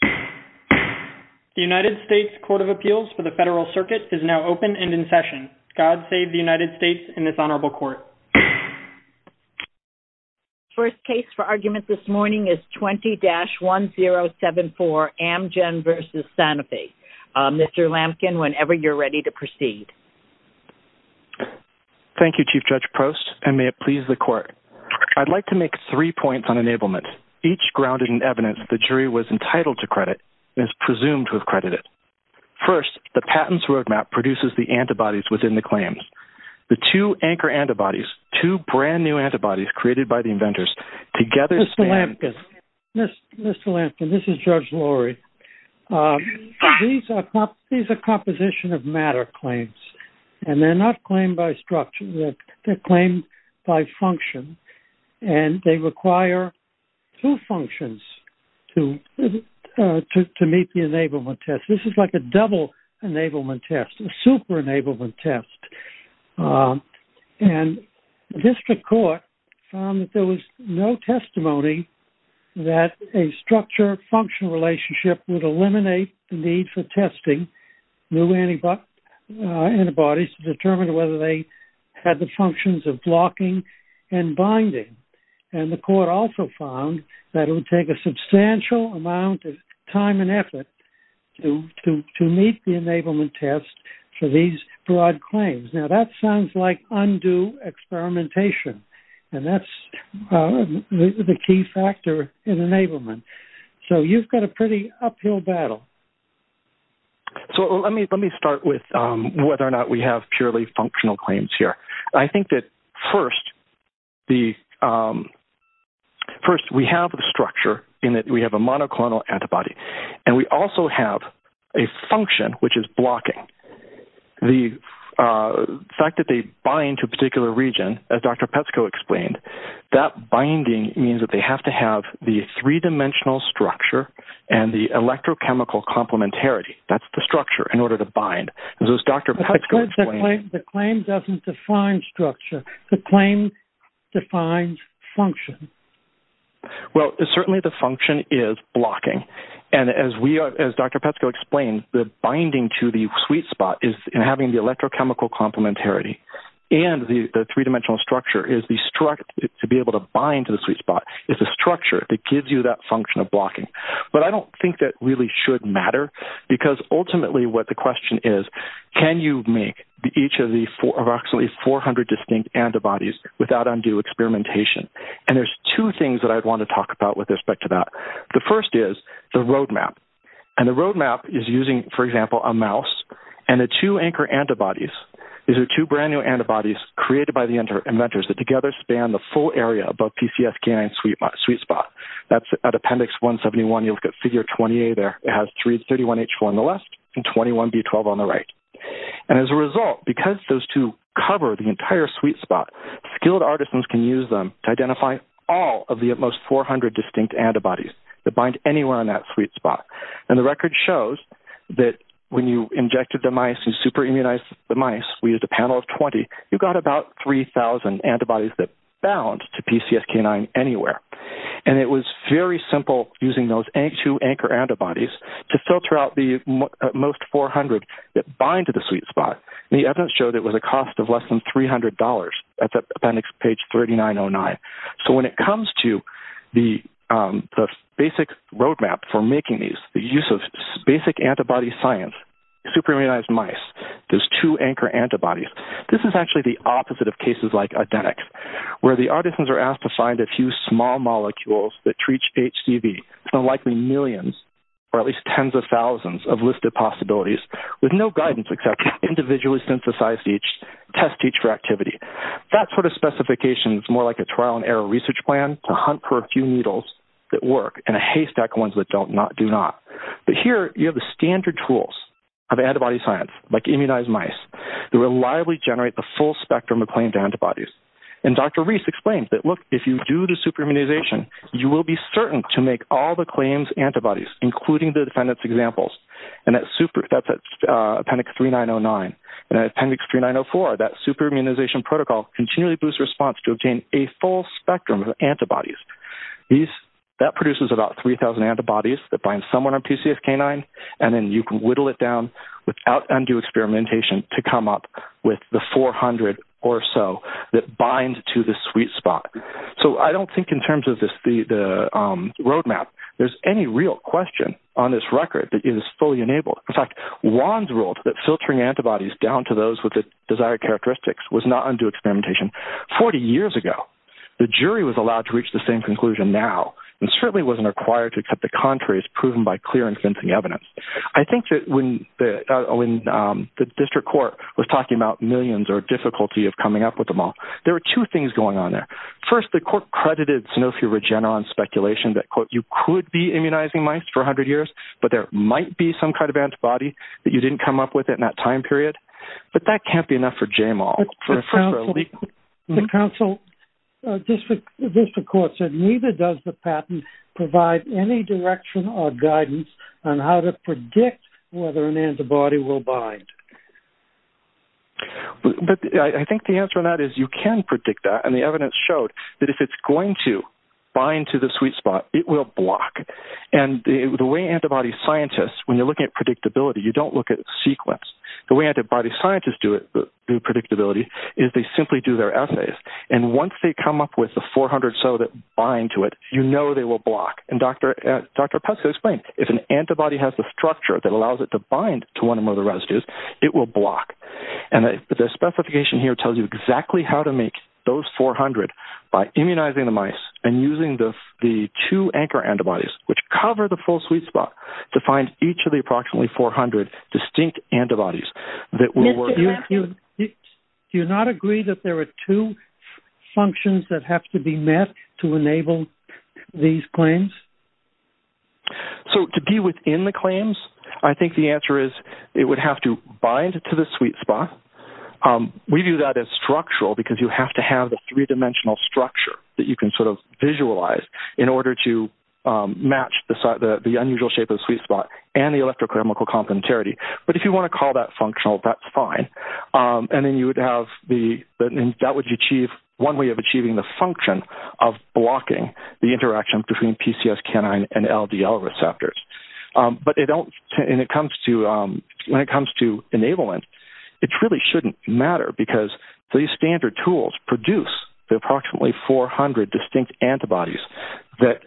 The United States Court of Appeals for the Federal Circuit is now open and in session. God save the United States and this Honorable Court. First case for argument this morning is 20-1074, Amgen v. Sanofi. Mr. Lamkin, whenever you're ready to proceed. Thank you, Chief Judge Prost, and may it please the Court. I'd like to make three points on enablement, each grounded in evidence the jury was entitled to credit and is presumed to have credited. First, the patent's roadmap produces the antibodies within the claims. The two anchor antibodies, two brand new antibodies created by the inventors, together stand... Mr. Lamkin, this is Judge Lorry. These are composition of matter claims, and they're not claimed by structure. They're claimed by function, and they require two functions to meet the enablement test. This is like a double enablement test, a super enablement test. And district court found that there was no testimony that a structure-function relationship would eliminate the need for testing new antibodies to determine whether they had the functions of blocking and binding. And the court also found that it would take a substantial amount of time and effort to meet the enablement test for these broad claims. Now, that sounds like undue experimentation, and that's the key factor in enablement. So you've got a pretty uphill battle. So let me start with whether or not we have purely functional claims here. I think that first, we have the structure in that we have a monoclonal antibody, and we also have a function which is blocking. The fact that they bind to a particular region, as Dr. Petsko explained, that binding means that they have to have the three-dimensional structure and the electrochemical complementarity. That's the structure in order to bind. As Dr. Petsko explained... But the claim doesn't define structure. The claim defines function. Well, certainly the function is blocking. And as Dr. Petsko explained, the binding to the sweet spot is in having the electrochemical complementarity. And the three-dimensional structure, to be able to bind to the sweet spot, is a structure that gives you that function of blocking. But I don't think that really should matter, because ultimately what the question is, can you make each of the approximately 400 distinct antibodies without undue experimentation? And there's two things that I'd want to talk about with respect to that. The first is the roadmap. And the roadmap is using, for example, a mouse and the two anchor antibodies. These are two brand-new antibodies created by the inventors that together span the full area above PCSK9 sweet spot. That's at appendix 171. You look at figure 28 there. It has 331H4 on the left and 21B12 on the right. And as a result, because those two cover the entire sweet spot, skilled artisans can use them to identify all of the utmost 400 distinct antibodies that bind anywhere on that sweet spot. And the record shows that when you injected the mice and super-immunized the mice, we used a panel of 20, you got about 3,000 antibodies that bound to PCSK9 anywhere. And it was very simple using those two anchor antibodies to filter out the most 400 that bind to the sweet spot. The evidence showed it was a cost of less than $300. That's at appendix page 3909. So when it comes to the basic roadmap for making these, the use of basic antibody science, super-immunized mice, those two anchor antibodies, this is actually the opposite of cases like adenics where the artisans are asked to find a few small molecules that treat HCV from likely millions or at least tens of thousands of listed possibilities with no guidance except individually synthesized each, test each for activity. That sort of specification is more like a trial-and-error research plan to hunt for a few needles that work and a haystack of ones that do not. But here you have the standard tools of antibody science, like immunized mice, that reliably generate the full spectrum of claimed antibodies. And Dr. Reese explained that, look, if you do the super-immunization, you will be certain to make all the claims antibodies, including the defendant's examples. And that's at appendix 3909. And at appendix 3904, that super-immunization protocol continually boosts response to obtain a full spectrum of antibodies. That produces about 3,000 antibodies that bind someone on PCSK9, and then you can whittle it down without undue experimentation to come up with the 400 or so that bind to the sweet spot. So I don't think in terms of the roadmap, there's any real question on this record that it is fully enabled. In fact, Wands ruled that filtering antibodies down to those with the desired characteristics was not undue experimentation 40 years ago. The jury was allowed to reach the same conclusion now and certainly wasn't required to accept the contrary as proven by clear and convincing evidence. I think that when the district court was talking about millions or difficulty of coming up with them all, there were two things going on there. First, the court credited Sanofi Regeneron's speculation that, quote, you could be immunizing mice for 100 years, but there might be some kind of antibody that you didn't come up with in that time period. But that can't be enough for JMOL. The council district court said, neither does the patent provide any direction or guidance on how to predict whether an antibody will bind. I think the answer to that is you can predict that, and the evidence showed that if it's going to bind to the sweet spot, it will block. And the way antibody scientists, when you're looking at predictability, you don't look at sequence. The way antibody scientists do predictability is they simply do their assays. And once they come up with the 400 or so that bind to it, you know they will block. And Dr. Pesco explained, if an antibody has the structure that allows it to bind to one of the residues, it will block. And the specification here tells you exactly how to make those 400 by immunizing the mice and using the two anchor antibodies, which cover the full sweet spot, to find each of the approximately 400 distinct antibodies. Do you not agree that there are two functions that have to be met to enable these claims? So to be within the claims, I think the answer is it would have to bind to the sweet spot. We view that as structural because you have to have the three-dimensional structure that you can sort of visualize in order to match the unusual shape of the sweet spot and the electrochemical complementarity. But if you want to call that functional, that's fine. And that would achieve one way of achieving the function of blocking the interaction between PCS canine and LDL receptors. But when it comes to enablement, it really shouldn't matter because these standard tools produce the approximately 400 distinct antibodies that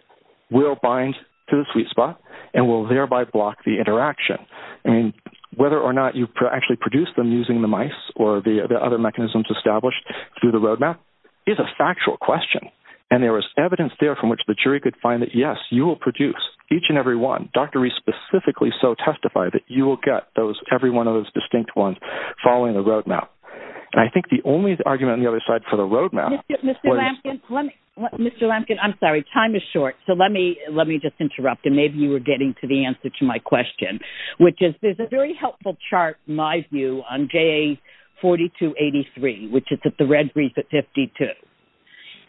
will bind to the sweet spot and will thereby block the interaction. And whether or not you actually produce them using the mice or the other mechanisms established through the roadmap is a factual question. And there is evidence there from which the jury could find that, yes, you will produce each and every one. Dr. Rhee specifically so testified that you will get every one of those distinct ones following the roadmap. And I think the only argument on the other side for the roadmap... Mr. Lampkin, I'm sorry, time is short. So let me just interrupt, and maybe you were getting to the answer to my question, which is there's a very helpful chart, in my view, on JA4283, which is at the red brief at 52.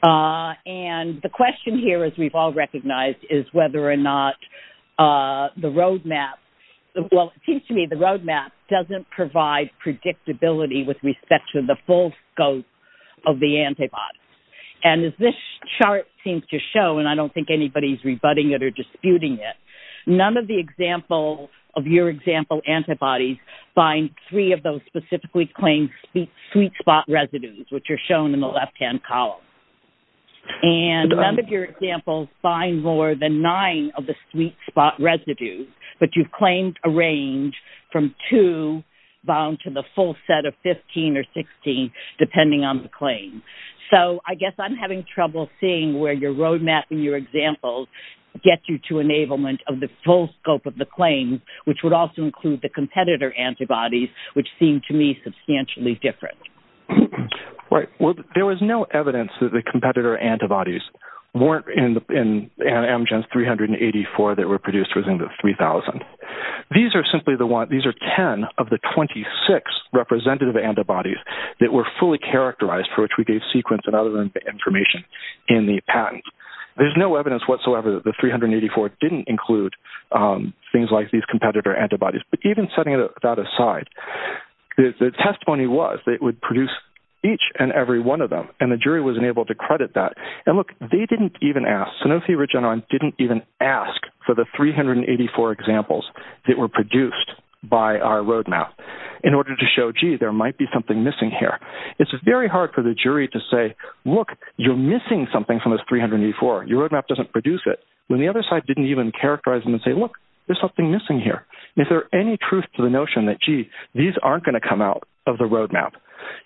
And the question here, as we've all recognized, is whether or not the roadmap... has predictability with respect to the full scope of the antibodies. And as this chart seems to show, and I don't think anybody is rebutting it or disputing it, none of the examples of your example antibodies bind three of those specifically claimed sweet spot residues, which are shown in the left-hand column. And none of your examples bind more than nine of the sweet spot residues, but you've claimed a range from two bound to the full set of 15 or 16, depending on the claim. So I guess I'm having trouble seeing where your roadmap and your examples get you to enablement of the full scope of the claims, which would also include the competitor antibodies, which seem to me substantially different. Right. Well, there was no evidence that the competitor antibodies weren't in Amgen's 384 that were produced within the 3,000. These are simply the one... These are 10 of the 26 representative antibodies that were fully characterized for which we gave sequence and other information in the patent. There's no evidence whatsoever that the 384 didn't include things like these competitor antibodies. But even setting that aside, the testimony was that it would produce each and every one of them, and the jury was unable to credit that. And look, they didn't even ask. Sanofi Regeneron didn't even ask for the 384 examples that were produced by our roadmap in order to show, gee, there might be something missing here. It's very hard for the jury to say, look, you're missing something from this 384. Your roadmap doesn't produce it. When the other side didn't even characterize them and say, look, there's something missing here. Is there any truth to the notion that, gee, these aren't going to come out of the roadmap?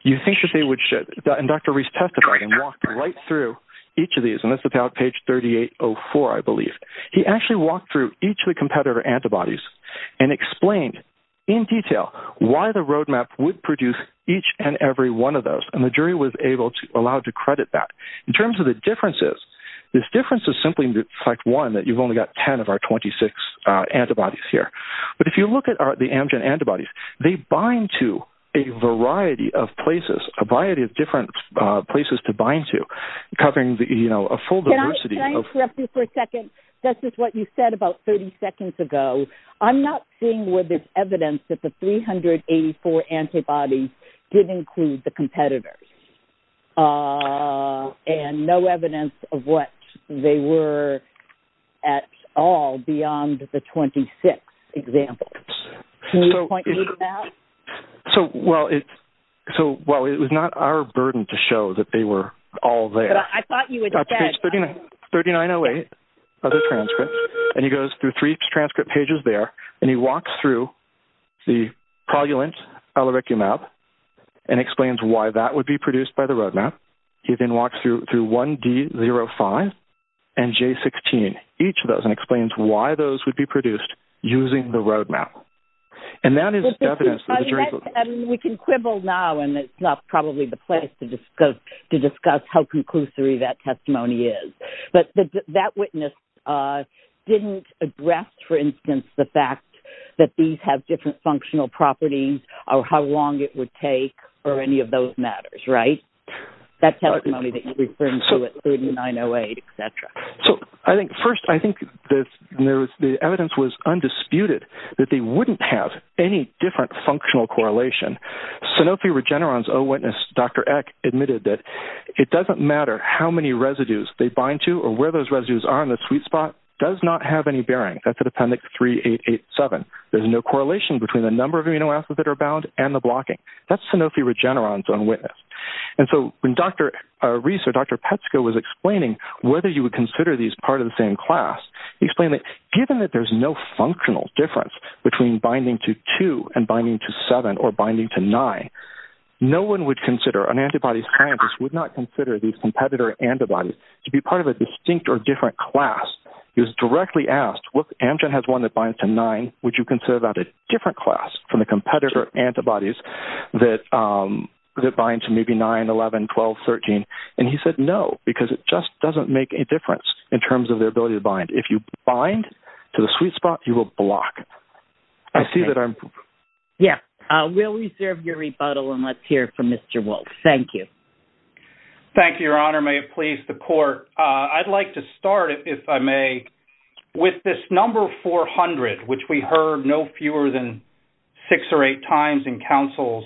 You think that they would... And Dr. Reese testified and walked right through each of these, and that's about page 3804, I believe. He actually walked through each of the competitor antibodies and explained in detail why the roadmap would produce each and every one of those, and the jury was able to allow to credit that. In terms of the differences, this difference is simply in fact one, that you've only got 10 of our 26 antibodies here. But if you look at the Amgen antibodies, they bind to a variety of places, a variety of different places to bind to, covering a full diversity of... Can I interrupt you for a second? This is what you said about 30 seconds ago. I'm not seeing where there's evidence that the 384 antibodies did include the competitors and no evidence of what they were at all beyond the 26 examples. Can you point me to that? So, well, it was not our burden to show that they were all there. But I thought you would say... Page 3908, other transcripts, and he goes through three transcript pages there, and he walks through the progulant alericumab and explains why that would be produced by the roadmap. He then walks through 1D05 and J16, each of those, and explains why those would be produced using the roadmap. And that is evidence... We can quibble now, and it's not probably the place to discuss how conclusory that testimony is. But that witness didn't address, for instance, the fact that these have different functional properties or how long it would take or any of those matters, right? That testimony that you referred to at 3908, et cetera. So, first, I think the evidence was undisputed that they wouldn't have any different functional correlation. Sanofi Regeneron's own witness, Dr. Eck, admitted that it doesn't matter how many residues they bind to or where those residues are in the sweet spot. It does not have any bearing. That's at Appendix 3887. There's no correlation between the number of amino acids that are bound and the blocking. That's Sanofi Regeneron's own witness. And so when Dr. Reese or Dr. Petsko was explaining whether you would consider these part of the same class, he explained that given that there's no functional difference between binding to 2 and binding to 7 or binding to 9, no one would consider, an antibody scientist, would not consider these competitor antibodies to be part of a distinct or different class. He was directly asked, if Amgen has one that binds to 9, would you consider that a different class from the competitor antibodies that bind to maybe 9, 11, 12, 13? And he said no, because it just doesn't make a difference in terms of their ability to bind. If you bind to the sweet spot, you will block. I see that I'm... Yeah, we'll reserve your rebuttal, and let's hear from Mr. Wolfe. Thank you. Thank you, Your Honor. May it please the Court. I'd like to start, if I may, with this number 400, which we heard no fewer than six or eight times in counsel's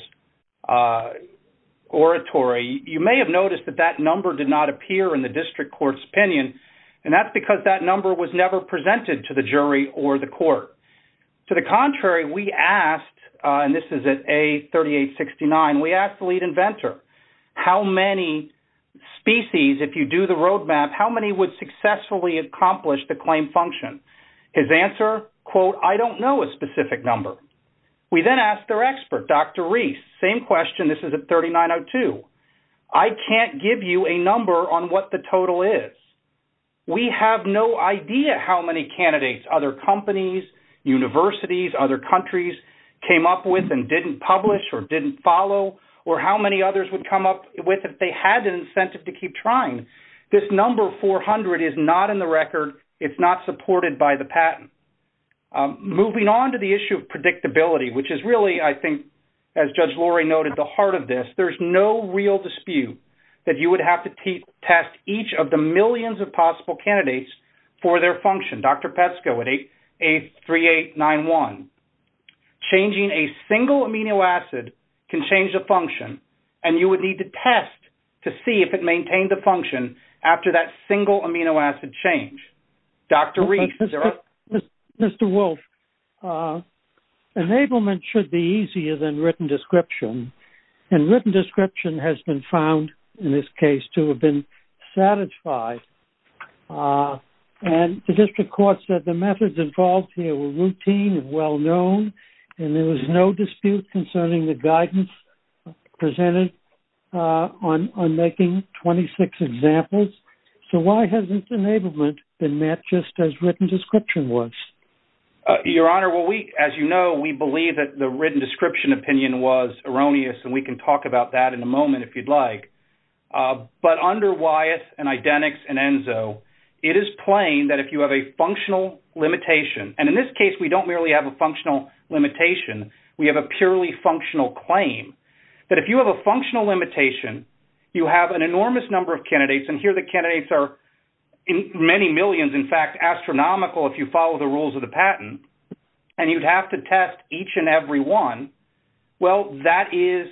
oratory. You may have noticed that that number did not appear in the district court's opinion, and that's because that number was never presented to the jury or the court. To the contrary, we asked, and this is at A3869, we asked the lead inventor, how many species, if you do the roadmap, how many would successfully accomplish the claim function? His answer, quote, I don't know a specific number. We then asked their expert, Dr. Reese, same question, this is at 3902, I can't give you a number on what the total is. We have no idea how many candidates other companies, universities, other countries came up with and didn't publish or didn't follow or how many others would come up with if they had an incentive to keep trying. This number 400 is not in the record. It's not supported by the patent. Moving on to the issue of predictability, which is really, I think, as Judge Lori noted, the heart of this. There's no real dispute that you would have to test each of the millions of possible candidates for their function, Dr. Pesco, at A3891. Changing a single amino acid can change the function and you would need to test to see if it maintained the function after that single amino acid change. Dr. Reese, there are... Mr. Wolf, enablement should be easier than written description. And written description has been found, in this case, to have been satisfied. And the district court said the methods involved here were routine and well-known and there was no dispute concerning the guidance presented on making 26 examples. So why hasn't enablement been met just as written description was? Your Honor, well, as you know, we believe that the written description opinion was erroneous and we can talk about that in a moment, if you'd like. But under Wyeth and IDENIX and ENZO, it is plain that if you have a functional limitation, and in this case we don't merely have a functional limitation, we have a purely functional claim, that if you have a functional limitation, you have an enormous number of candidates, and here the candidates are many millions, in fact, astronomical if you follow the rules of the patent, and you'd have to test each and every one, well, that is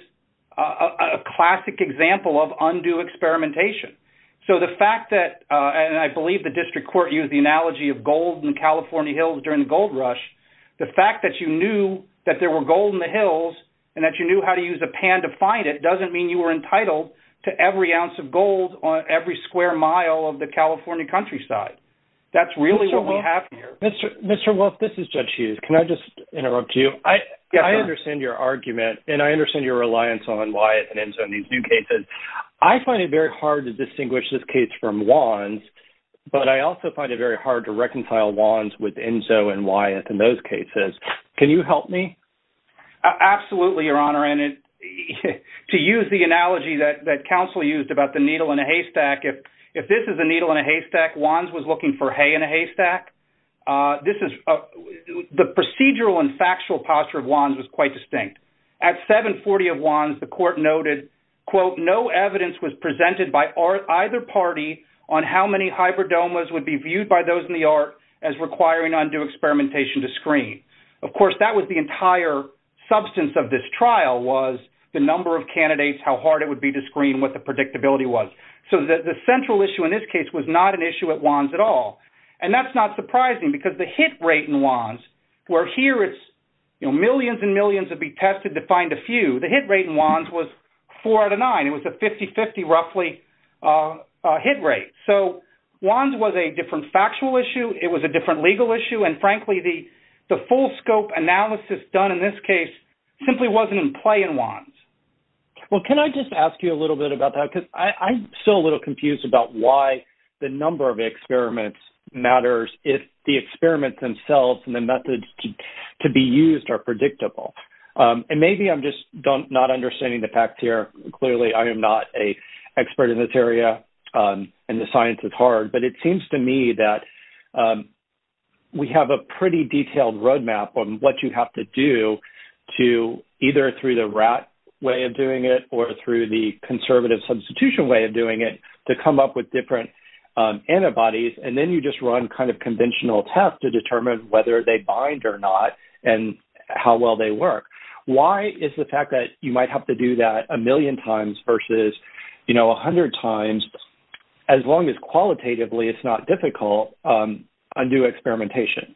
a classic example of undue experimentation. So the fact that, and I believe the district court used the analogy of gold in California hills during the gold rush, the fact that you knew that there were gold in the hills and that you knew how to use a pan to find it doesn't mean you were entitled to every ounce of gold on every square mile of the California countryside. That's really what we have here. Mr. Wolf, this is Judge Hughes. Can I just interrupt you? Yes, sir. I understand your argument, and I understand your reliance on Wyeth and ENZO in these new cases. I find it very hard to distinguish this case from Wands, but I also find it very hard to reconcile Wands with ENZO and Wyeth in those cases. Can you help me? Absolutely, Your Honor, and to use the analogy that counsel used that Wands was looking for hay in a haystack, the procedural and factual posture of Wands was quite distinct. At 740 of Wands, the court noted, quote, no evidence was presented by either party on how many hybridomas would be viewed by those in the art as requiring undue experimentation to screen. Of course, that was the entire substance of this trial was the number of candidates, how hard it would be to screen, what the predictability was. So the central issue in this case was not an issue at Wands at all, and that's not surprising because the hit rate in Wands, where here it's millions and millions would be tested to find a few, the hit rate in Wands was 4 out of 9. It was a 50-50 roughly hit rate. So Wands was a different factual issue. It was a different legal issue, and frankly, the full scope analysis done in this case simply wasn't in play in Wands. Well, can I just ask you a little bit about that? Because I'm still a little confused about why the number of experiments matters if the experiments themselves and the methods to be used are predictable. And maybe I'm just not understanding the facts here. Clearly, I am not an expert in this area, and the science is hard, but it seems to me that we have a pretty detailed roadmap on what you have to do to either through the RAT way of doing it or through the conservative substitution way of doing it to come up with different antibodies, and then you just run kind of conventional tests to determine whether they bind or not and how well they work. Why is the fact that you might have to do that a million times versus, you know, a hundred times, as long as qualitatively it's not difficult, undo experimentation?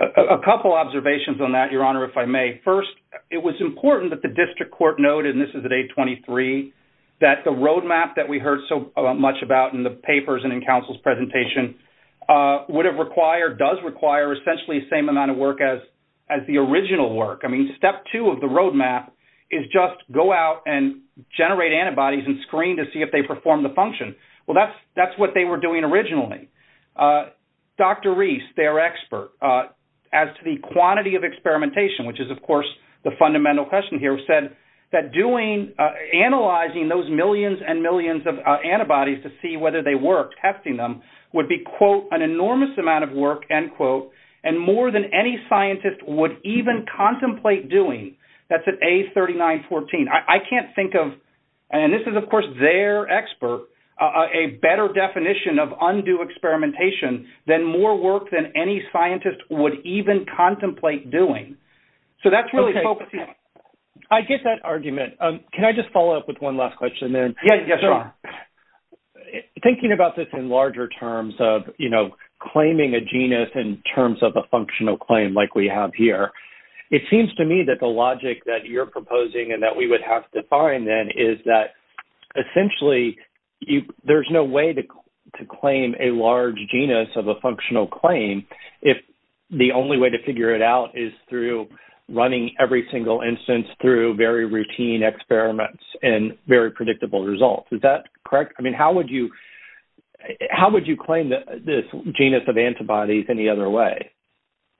A couple observations on that, Your Honor, if I may. First, it was important that the district court noted, and this is at 823, that the roadmap that we heard so much about in the papers and in counsel's presentation would have required, does require essentially the same amount of work as the original work. I mean, step two of the roadmap is just go out and generate antibodies and screen to see if they perform the function. Well, that's what they were doing originally. Dr. Reese, their expert, as to the quantity of experimentation, which is, of course, the fundamental question here, said that analyzing those millions and millions of antibodies to see whether they worked, testing them, would be, quote, an enormous amount of work, end quote, and more than any scientist would even contemplate doing. That's at A3914. I can't think of, and this is, of course, their expert, a better definition of undue experimentation than more work than any scientist would even contemplate doing. So that's really focusing. I get that argument. Can I just follow up with one last question then? Yes, sure. Thinking about this in larger terms of, you know, claiming a genus in terms of a functional claim like we have here, it seems to me that the logic that you're proposing and that we would have to find, then, is that essentially there's no way to claim a large genus of a functional claim if the only way to figure it out is through running every single instance through very routine experiments and very predictable results. Is that correct? I mean, how would you claim this genus of antibodies any other way?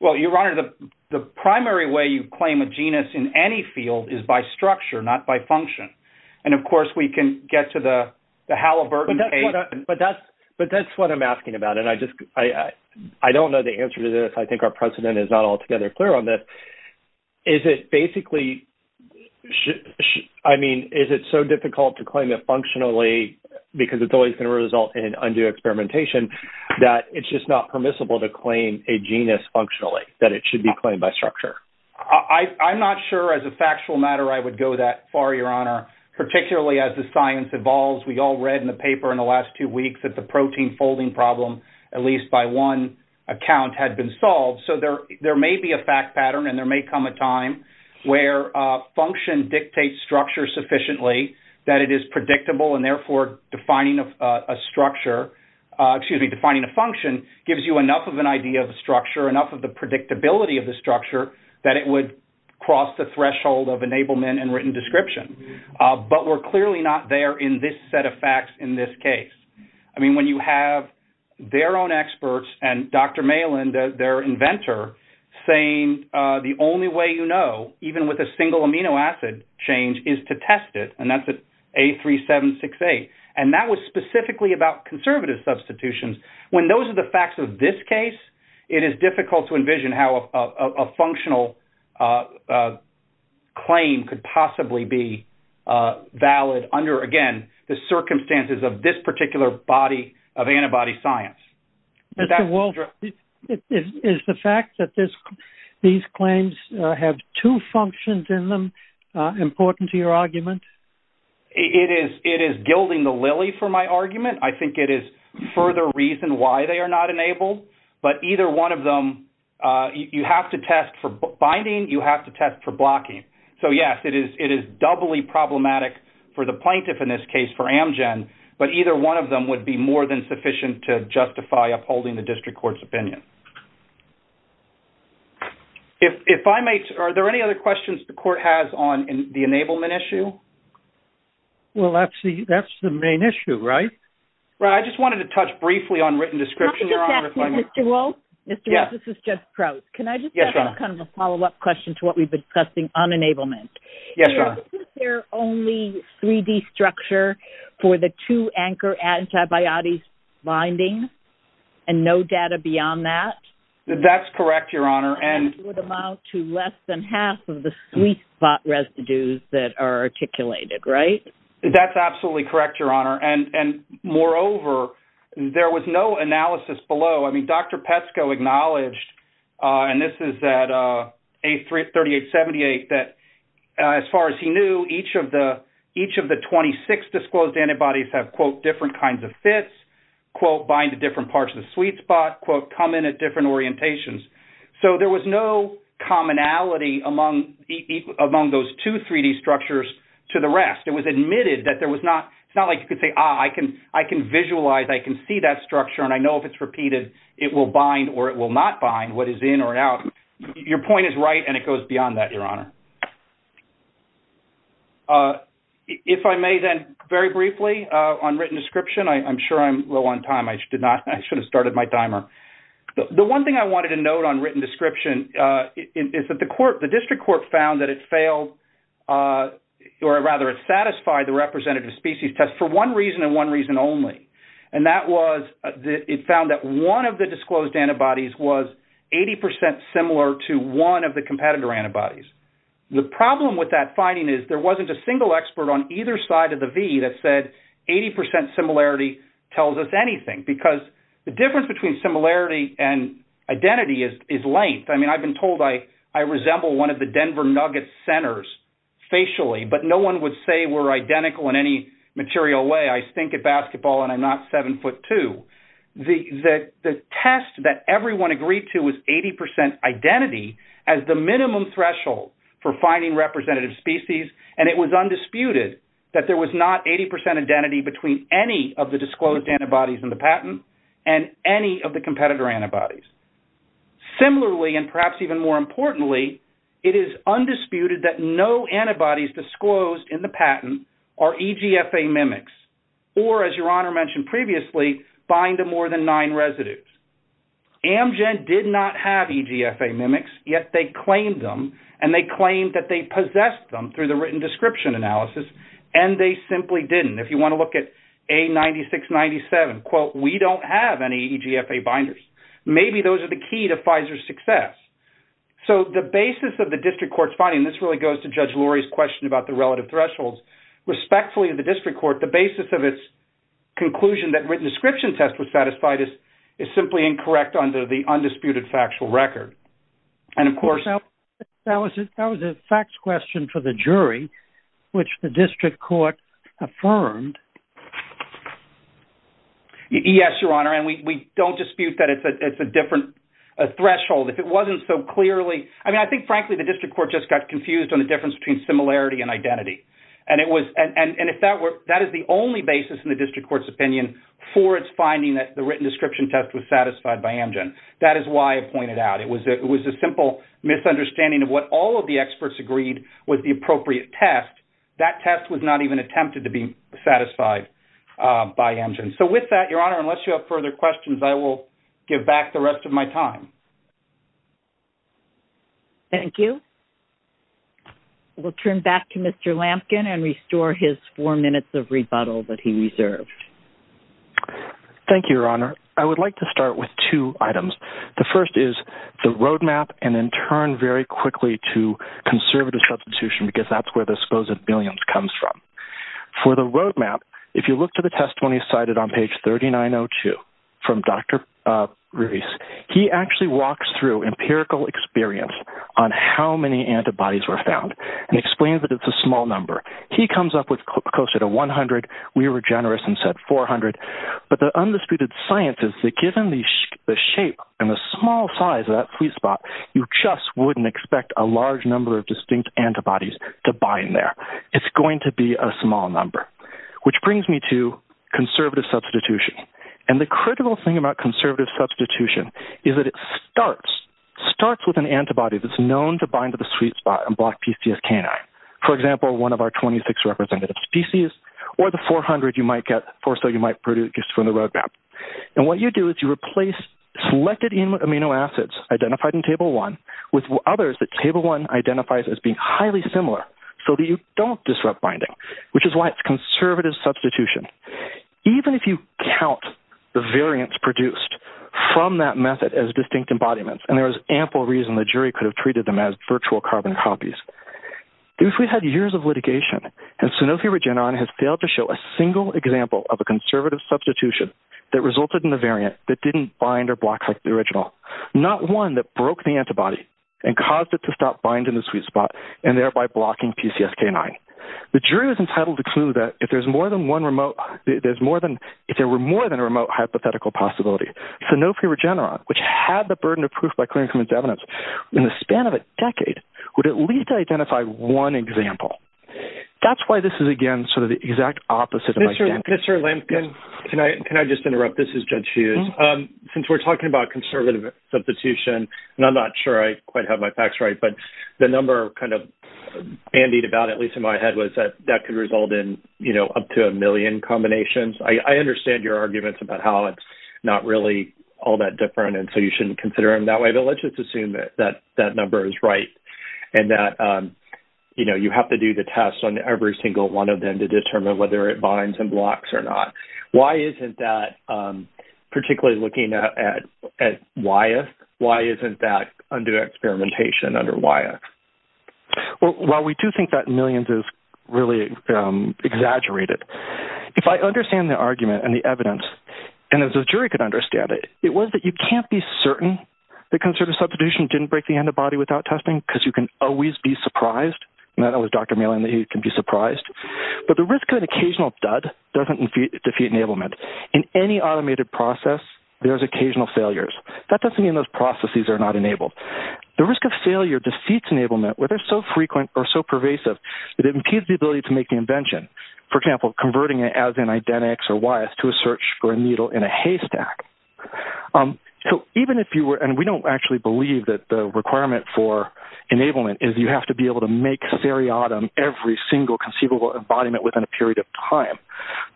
Well, Your Honor, the primary way you claim a genus in any field is by structure, not by function. And, of course, we can get to the Halliburton case. But that's what I'm asking about, and I don't know the answer to this. I think our precedent is not altogether clear on this. Is it basically, I mean, is it so difficult to claim it functionally because it's always going to result in undue experimentation that it's just not permissible to claim a genus functionally, that it should be claimed by structure? I'm not sure as a factual matter I would go that far, Your Honor, particularly as the science evolves. We all read in the paper in the last two weeks that the protein folding problem, at least by one account, had been solved. So there may be a fact pattern and there may come a time where function dictates structure sufficiently, that it is predictable, and therefore defining a structure, excuse me, defining a function, gives you enough of an idea of the structure, enough of the predictability of the structure, that it would cross the threshold of enablement and written description. But we're clearly not there in this set of facts in this case. I mean, when you have their own experts and Dr. Malin, their inventor, saying the only way you know, even with a single amino acid change, is to test it, and that's at A3768. And that was specifically about conservative substitutions. When those are the facts of this case, it is difficult to envision how a functional claim could possibly be valid under, again, the circumstances of this particular body of antibody science. Dr. Wolf, is the fact that these claims have two functions in them important to your argument? I think it is further reason why they are not enabled, but either one of them, you have to test for binding, you have to test for blocking. So, yes, it is doubly problematic for the plaintiff in this case, for Amgen, but either one of them would be more than sufficient to justify upholding the district court's opinion. If I may, are there any other questions the court has on the enablement issue? Well, that's the main issue, right? Right. I just wanted to touch briefly on written description, Your Honor. Mr. Wolf, this is Judge Prouts. Can I just ask kind of a follow-up question to what we've been discussing on enablement? Yes, Your Honor. Is there only 3D structure for the two-anchor antibiotic bindings and no data beyond that? That's correct, Your Honor. It would amount to less than half of the sweet spot residues that are articulated, right? That's absolutely correct, Your Honor. And moreover, there was no analysis below. I mean, Dr. Pesco acknowledged, and this is at 3878, that as far as he knew, each of the 26 disclosed antibodies have, quote, different kinds of fits, quote, bind to different parts of the sweet spot, quote, come in at different orientations. So there was no commonality among those two 3D structures to the rest. It was admitted that there was not – it's not like you could say, ah, I can visualize, I can see that structure, and I know if it's repeated, it will bind or it will not bind, what is in or out. Your point is right, and it goes beyond that, Your Honor. If I may then, very briefly, on written description, I'm sure I'm low on time. I should have started my timer. The one thing I wanted to note on written description is that the court, the district court found that it failed, or rather, it satisfied the representative species test for one reason and one reason only, and that was it found that one of the disclosed antibodies was 80 percent similar to one of the competitor antibodies. The problem with that finding is there wasn't a single expert on either side of the V that said 80 percent similarity tells us anything, because the difference between similarity and identity is length. I mean, I've been told I resemble one of the Denver Nuggets centers facially, but no one would say we're identical in any material way. I stink at basketball, and I'm not 7 foot 2. The test that everyone agreed to was 80 percent identity as the minimum threshold for finding representative species, and it was undisputed that there was not 80 percent identity between any of the disclosed antibodies in the patent and any of the competitor antibodies. Similarly, and perhaps even more importantly, it is undisputed that no antibodies disclosed in the patent are EGFA mimics or, as Your Honor mentioned previously, bind to more than nine residues. Amgen did not have EGFA mimics, yet they claimed them, and they claimed that they possessed them through the written description analysis, and they simply didn't. If you want to look at A9697, quote, we don't have any EGFA binders. Maybe those are the key to Pfizer's success. So the basis of the district court's finding, and this really goes to Judge Lurie's question about the relative thresholds, respectfully of the district court, the basis of its conclusion that written description test was satisfied is simply incorrect under the undisputed factual record. That was a facts question for the jury, which the district court affirmed. Yes, Your Honor, and we don't dispute that it's a different threshold. If it wasn't so clearly – I mean, I think, frankly, the district court just got confused on the difference between similarity and identity, and that is the only basis in the district court's opinion for its finding that the written description test was satisfied by Amgen. That is why I pointed out it was a simple misunderstanding of what all of the experts agreed was the appropriate test. That test was not even attempted to be satisfied by Amgen. So with that, Your Honor, unless you have further questions, I will give back the rest of my time. Thank you. We'll turn back to Mr. Lampkin and restore his four minutes of rebuttal that he reserved. Thank you, Your Honor. I would like to start with two items. The first is the roadmap, and then turn very quickly to conservative substitution, because that's where the supposed billions comes from. For the roadmap, if you look to the testimony cited on page 3902 from Dr. Ruiz, he actually walks through empirical experience on how many antibodies were found and explains that it's a small number. He comes up with closer to 100. We were generous and said 400. But the undisputed science is that given the shape and the small size of that sweet spot, you just wouldn't expect a large number of distinct antibodies to bind there. It's going to be a small number, which brings me to conservative substitution. And the critical thing about conservative substitution is that it starts with an antibody that's known to bind to the sweet spot and block PCS canine. For example, one of our 26 representative species, or the 400 you might get or so you might produce from the roadmap. And what you do is you replace selected amino acids identified in Table 1 with others that Table 1 identifies as being highly similar so that you don't disrupt binding, which is why it's conservative substitution. Even if you count the variants produced from that method as distinct embodiments, and there is ample reason the jury could have treated them as virtual carbon copies, if we had years of litigation and Sanofi Regeneron has failed to show a single example of a conservative substitution that resulted in a variant that didn't bind or block like the original, not one that broke the antibody and caused it to stop binding the sweet spot and thereby blocking PCS canine. The jury was entitled to clue that if there were more than a remote hypothetical possibility, Sanofi Regeneron, which had the burden of proof by clearing from its evidence, in the span of a decade would at least identify one example. That's why this is, again, sort of the exact opposite of identity. Mr. Lampkin, can I just interrupt? This is Judge Hughes. Since we're talking about conservative substitution, and I'm not sure I quite have my facts right, but the number kind of bandied about, at least in my head, was that that could result in up to a million combinations. I understand your arguments about how it's not really all that different, and so you shouldn't consider them that way. But let's just assume that that number is right and that you have to do the test on every single one of them to determine whether it binds and blocks or not. Why isn't that, particularly looking at Wyeth, why isn't that under experimentation under Wyeth? Well, we do think that millions is really exaggerated. If I understand the argument and the evidence, and if the jury could understand it, it was that you can't be certain that conservative substitution didn't break the end of the body without testing because you can always be surprised. I know with Dr. Meehan that he can be surprised. But the risk of an occasional dud doesn't defeat enablement. In any automated process, there's occasional failures. That doesn't mean those processes are not enabled. The risk of failure defeats enablement, whether so frequent or so pervasive, that it impedes the ability to make the invention. For example, converting it as an identix or Wyeth to a search for a needle in a haystack. We don't actually believe that the requirement for enablement is you have to be able to make seriatim every single conceivable embodiment within a period of time.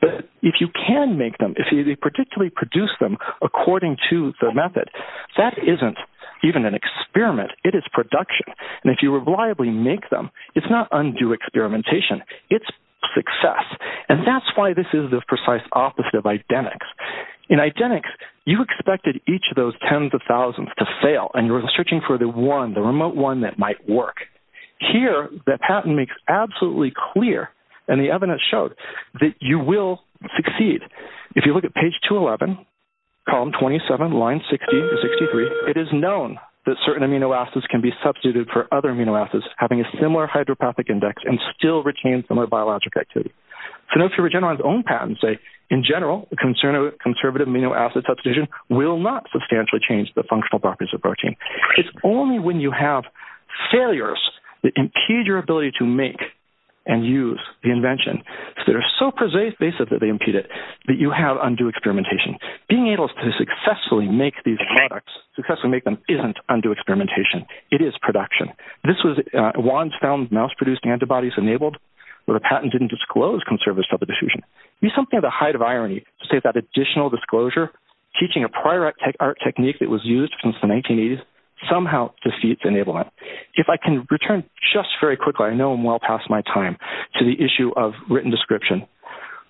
But if you can make them, if you particularly produce them according to the method, that isn't even an experiment. It is production. And if you reliably make them, it's not undue experimentation. It's success. And that's why this is the precise opposite of identix. In identix, you expected each of those tens of thousands to fail, and you were searching for the one, the remote one that might work. Here, the patent makes absolutely clear, and the evidence showed, that you will succeed. If you look at page 211, column 27, line 63, it is known that certain amino acids can be substituted for other amino acids, having a similar hydropathic index, and still retain similar biologic activity. Phenoxy Regeneron's own patents say, in general, the concern of conservative amino acid substitution will not substantially change the functional properties of protein. It's only when you have failures that impede your ability to make and use the invention. They are so persuasive that they impede it, that you have undue experimentation. Being able to successfully make these products, successfully make them, isn't undue experimentation. It is production. This was, Wands found mouse-produced antibodies enabled, but the patent didn't disclose conservatism of the diffusion. It is something at the height of irony, to say that additional disclosure, teaching a prior art technique that was used since the 1980s, somehow defeats enablement. If I can return just very quickly, I know I'm well past my time, to the issue of written description.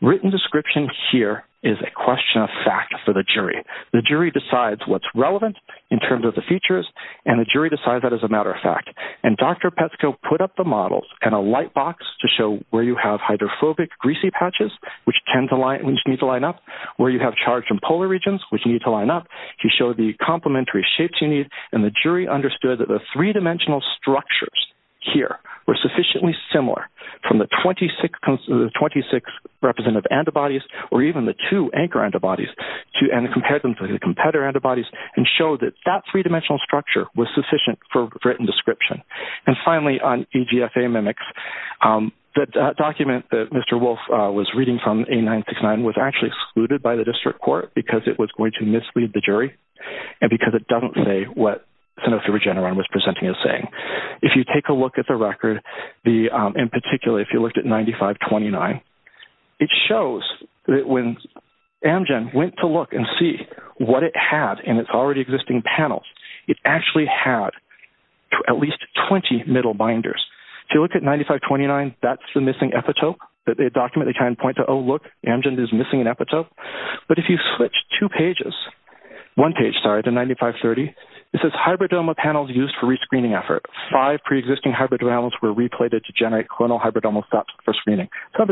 Written description here is a question of fact for the jury. The jury decides what's relevant, in terms of the features, and the jury decides that as a matter of fact. Dr. Pesco put up the models in a light box to show where you have hydrophobic, greasy patches, which need to line up, where you have charged and polar regions, which need to line up. He showed the complementary shapes you need, and the jury understood that the three-dimensional structures here were sufficiently similar from the 26 representative antibodies, or even the two anchor antibodies, and compared them to the competitor antibodies, and showed that that three-dimensional structure was sufficient for written description. Finally, on EGFA mimics, the document that Mr. Wolf was reading from, A969, was actually excluded by the district court, because it was going to mislead the jury, and because it doesn't say what Sanofi Regeneron was presenting as saying. If you take a look at the record, in particular, if you looked at 9529, it shows that when Amgen went to look and see what it had in its already existing panels, it actually had at least 20 middle binders. If you look at 9529, that's the missing epitope. The document, they kind of point to, oh, look, Amgen is missing an epitope. But if you switch two pages, one page, sorry, to 9530, it says, hybridoma panels used for re-screening effort. Five pre-existing hybridomas were replated to generate clonal hybridoma for screening. So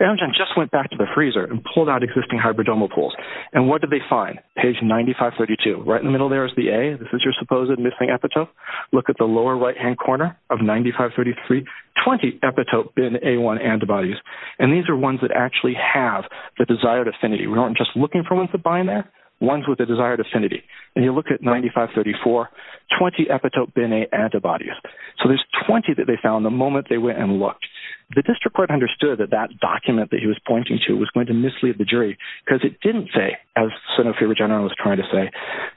Amgen just went back to the freezer and pulled out existing hybridoma pools. And what did they find? Page 9532. Right in the middle there is the A. This is your supposed missing epitope. Look at the lower right-hand corner of 9533, 20 epitope bin A1 antibodies. And these are ones that actually have the desired affinity. We aren't just looking for ones that bind there. One's with the desired affinity. And you look at 9534, 20 epitope bin A antibodies. So there's 20 that they found the moment they went and looked. The district court understood that that document that he was pointing to was going to mislead the jury because it didn't say, as Sotomayor was trying to say,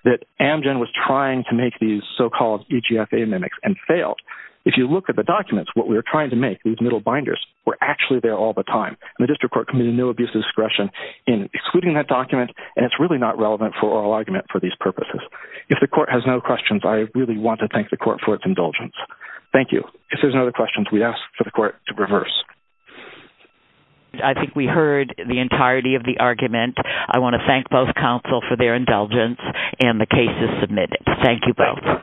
that Amgen was trying to make these so-called EGFA mimics and failed. If you look at the documents, what we were trying to make, these middle binders, were actually there all the time. And the district court committed no abuse of discretion in excluding that document, and it's really not relevant for oral argument for these purposes. If the court has no questions, I really want to thank the court for its indulgence. Thank you. If there's no other questions, we ask for the court to reverse. I think we heard the entirety of the argument. I want to thank both counsel for their indulgence and the cases submitted. Thank you both.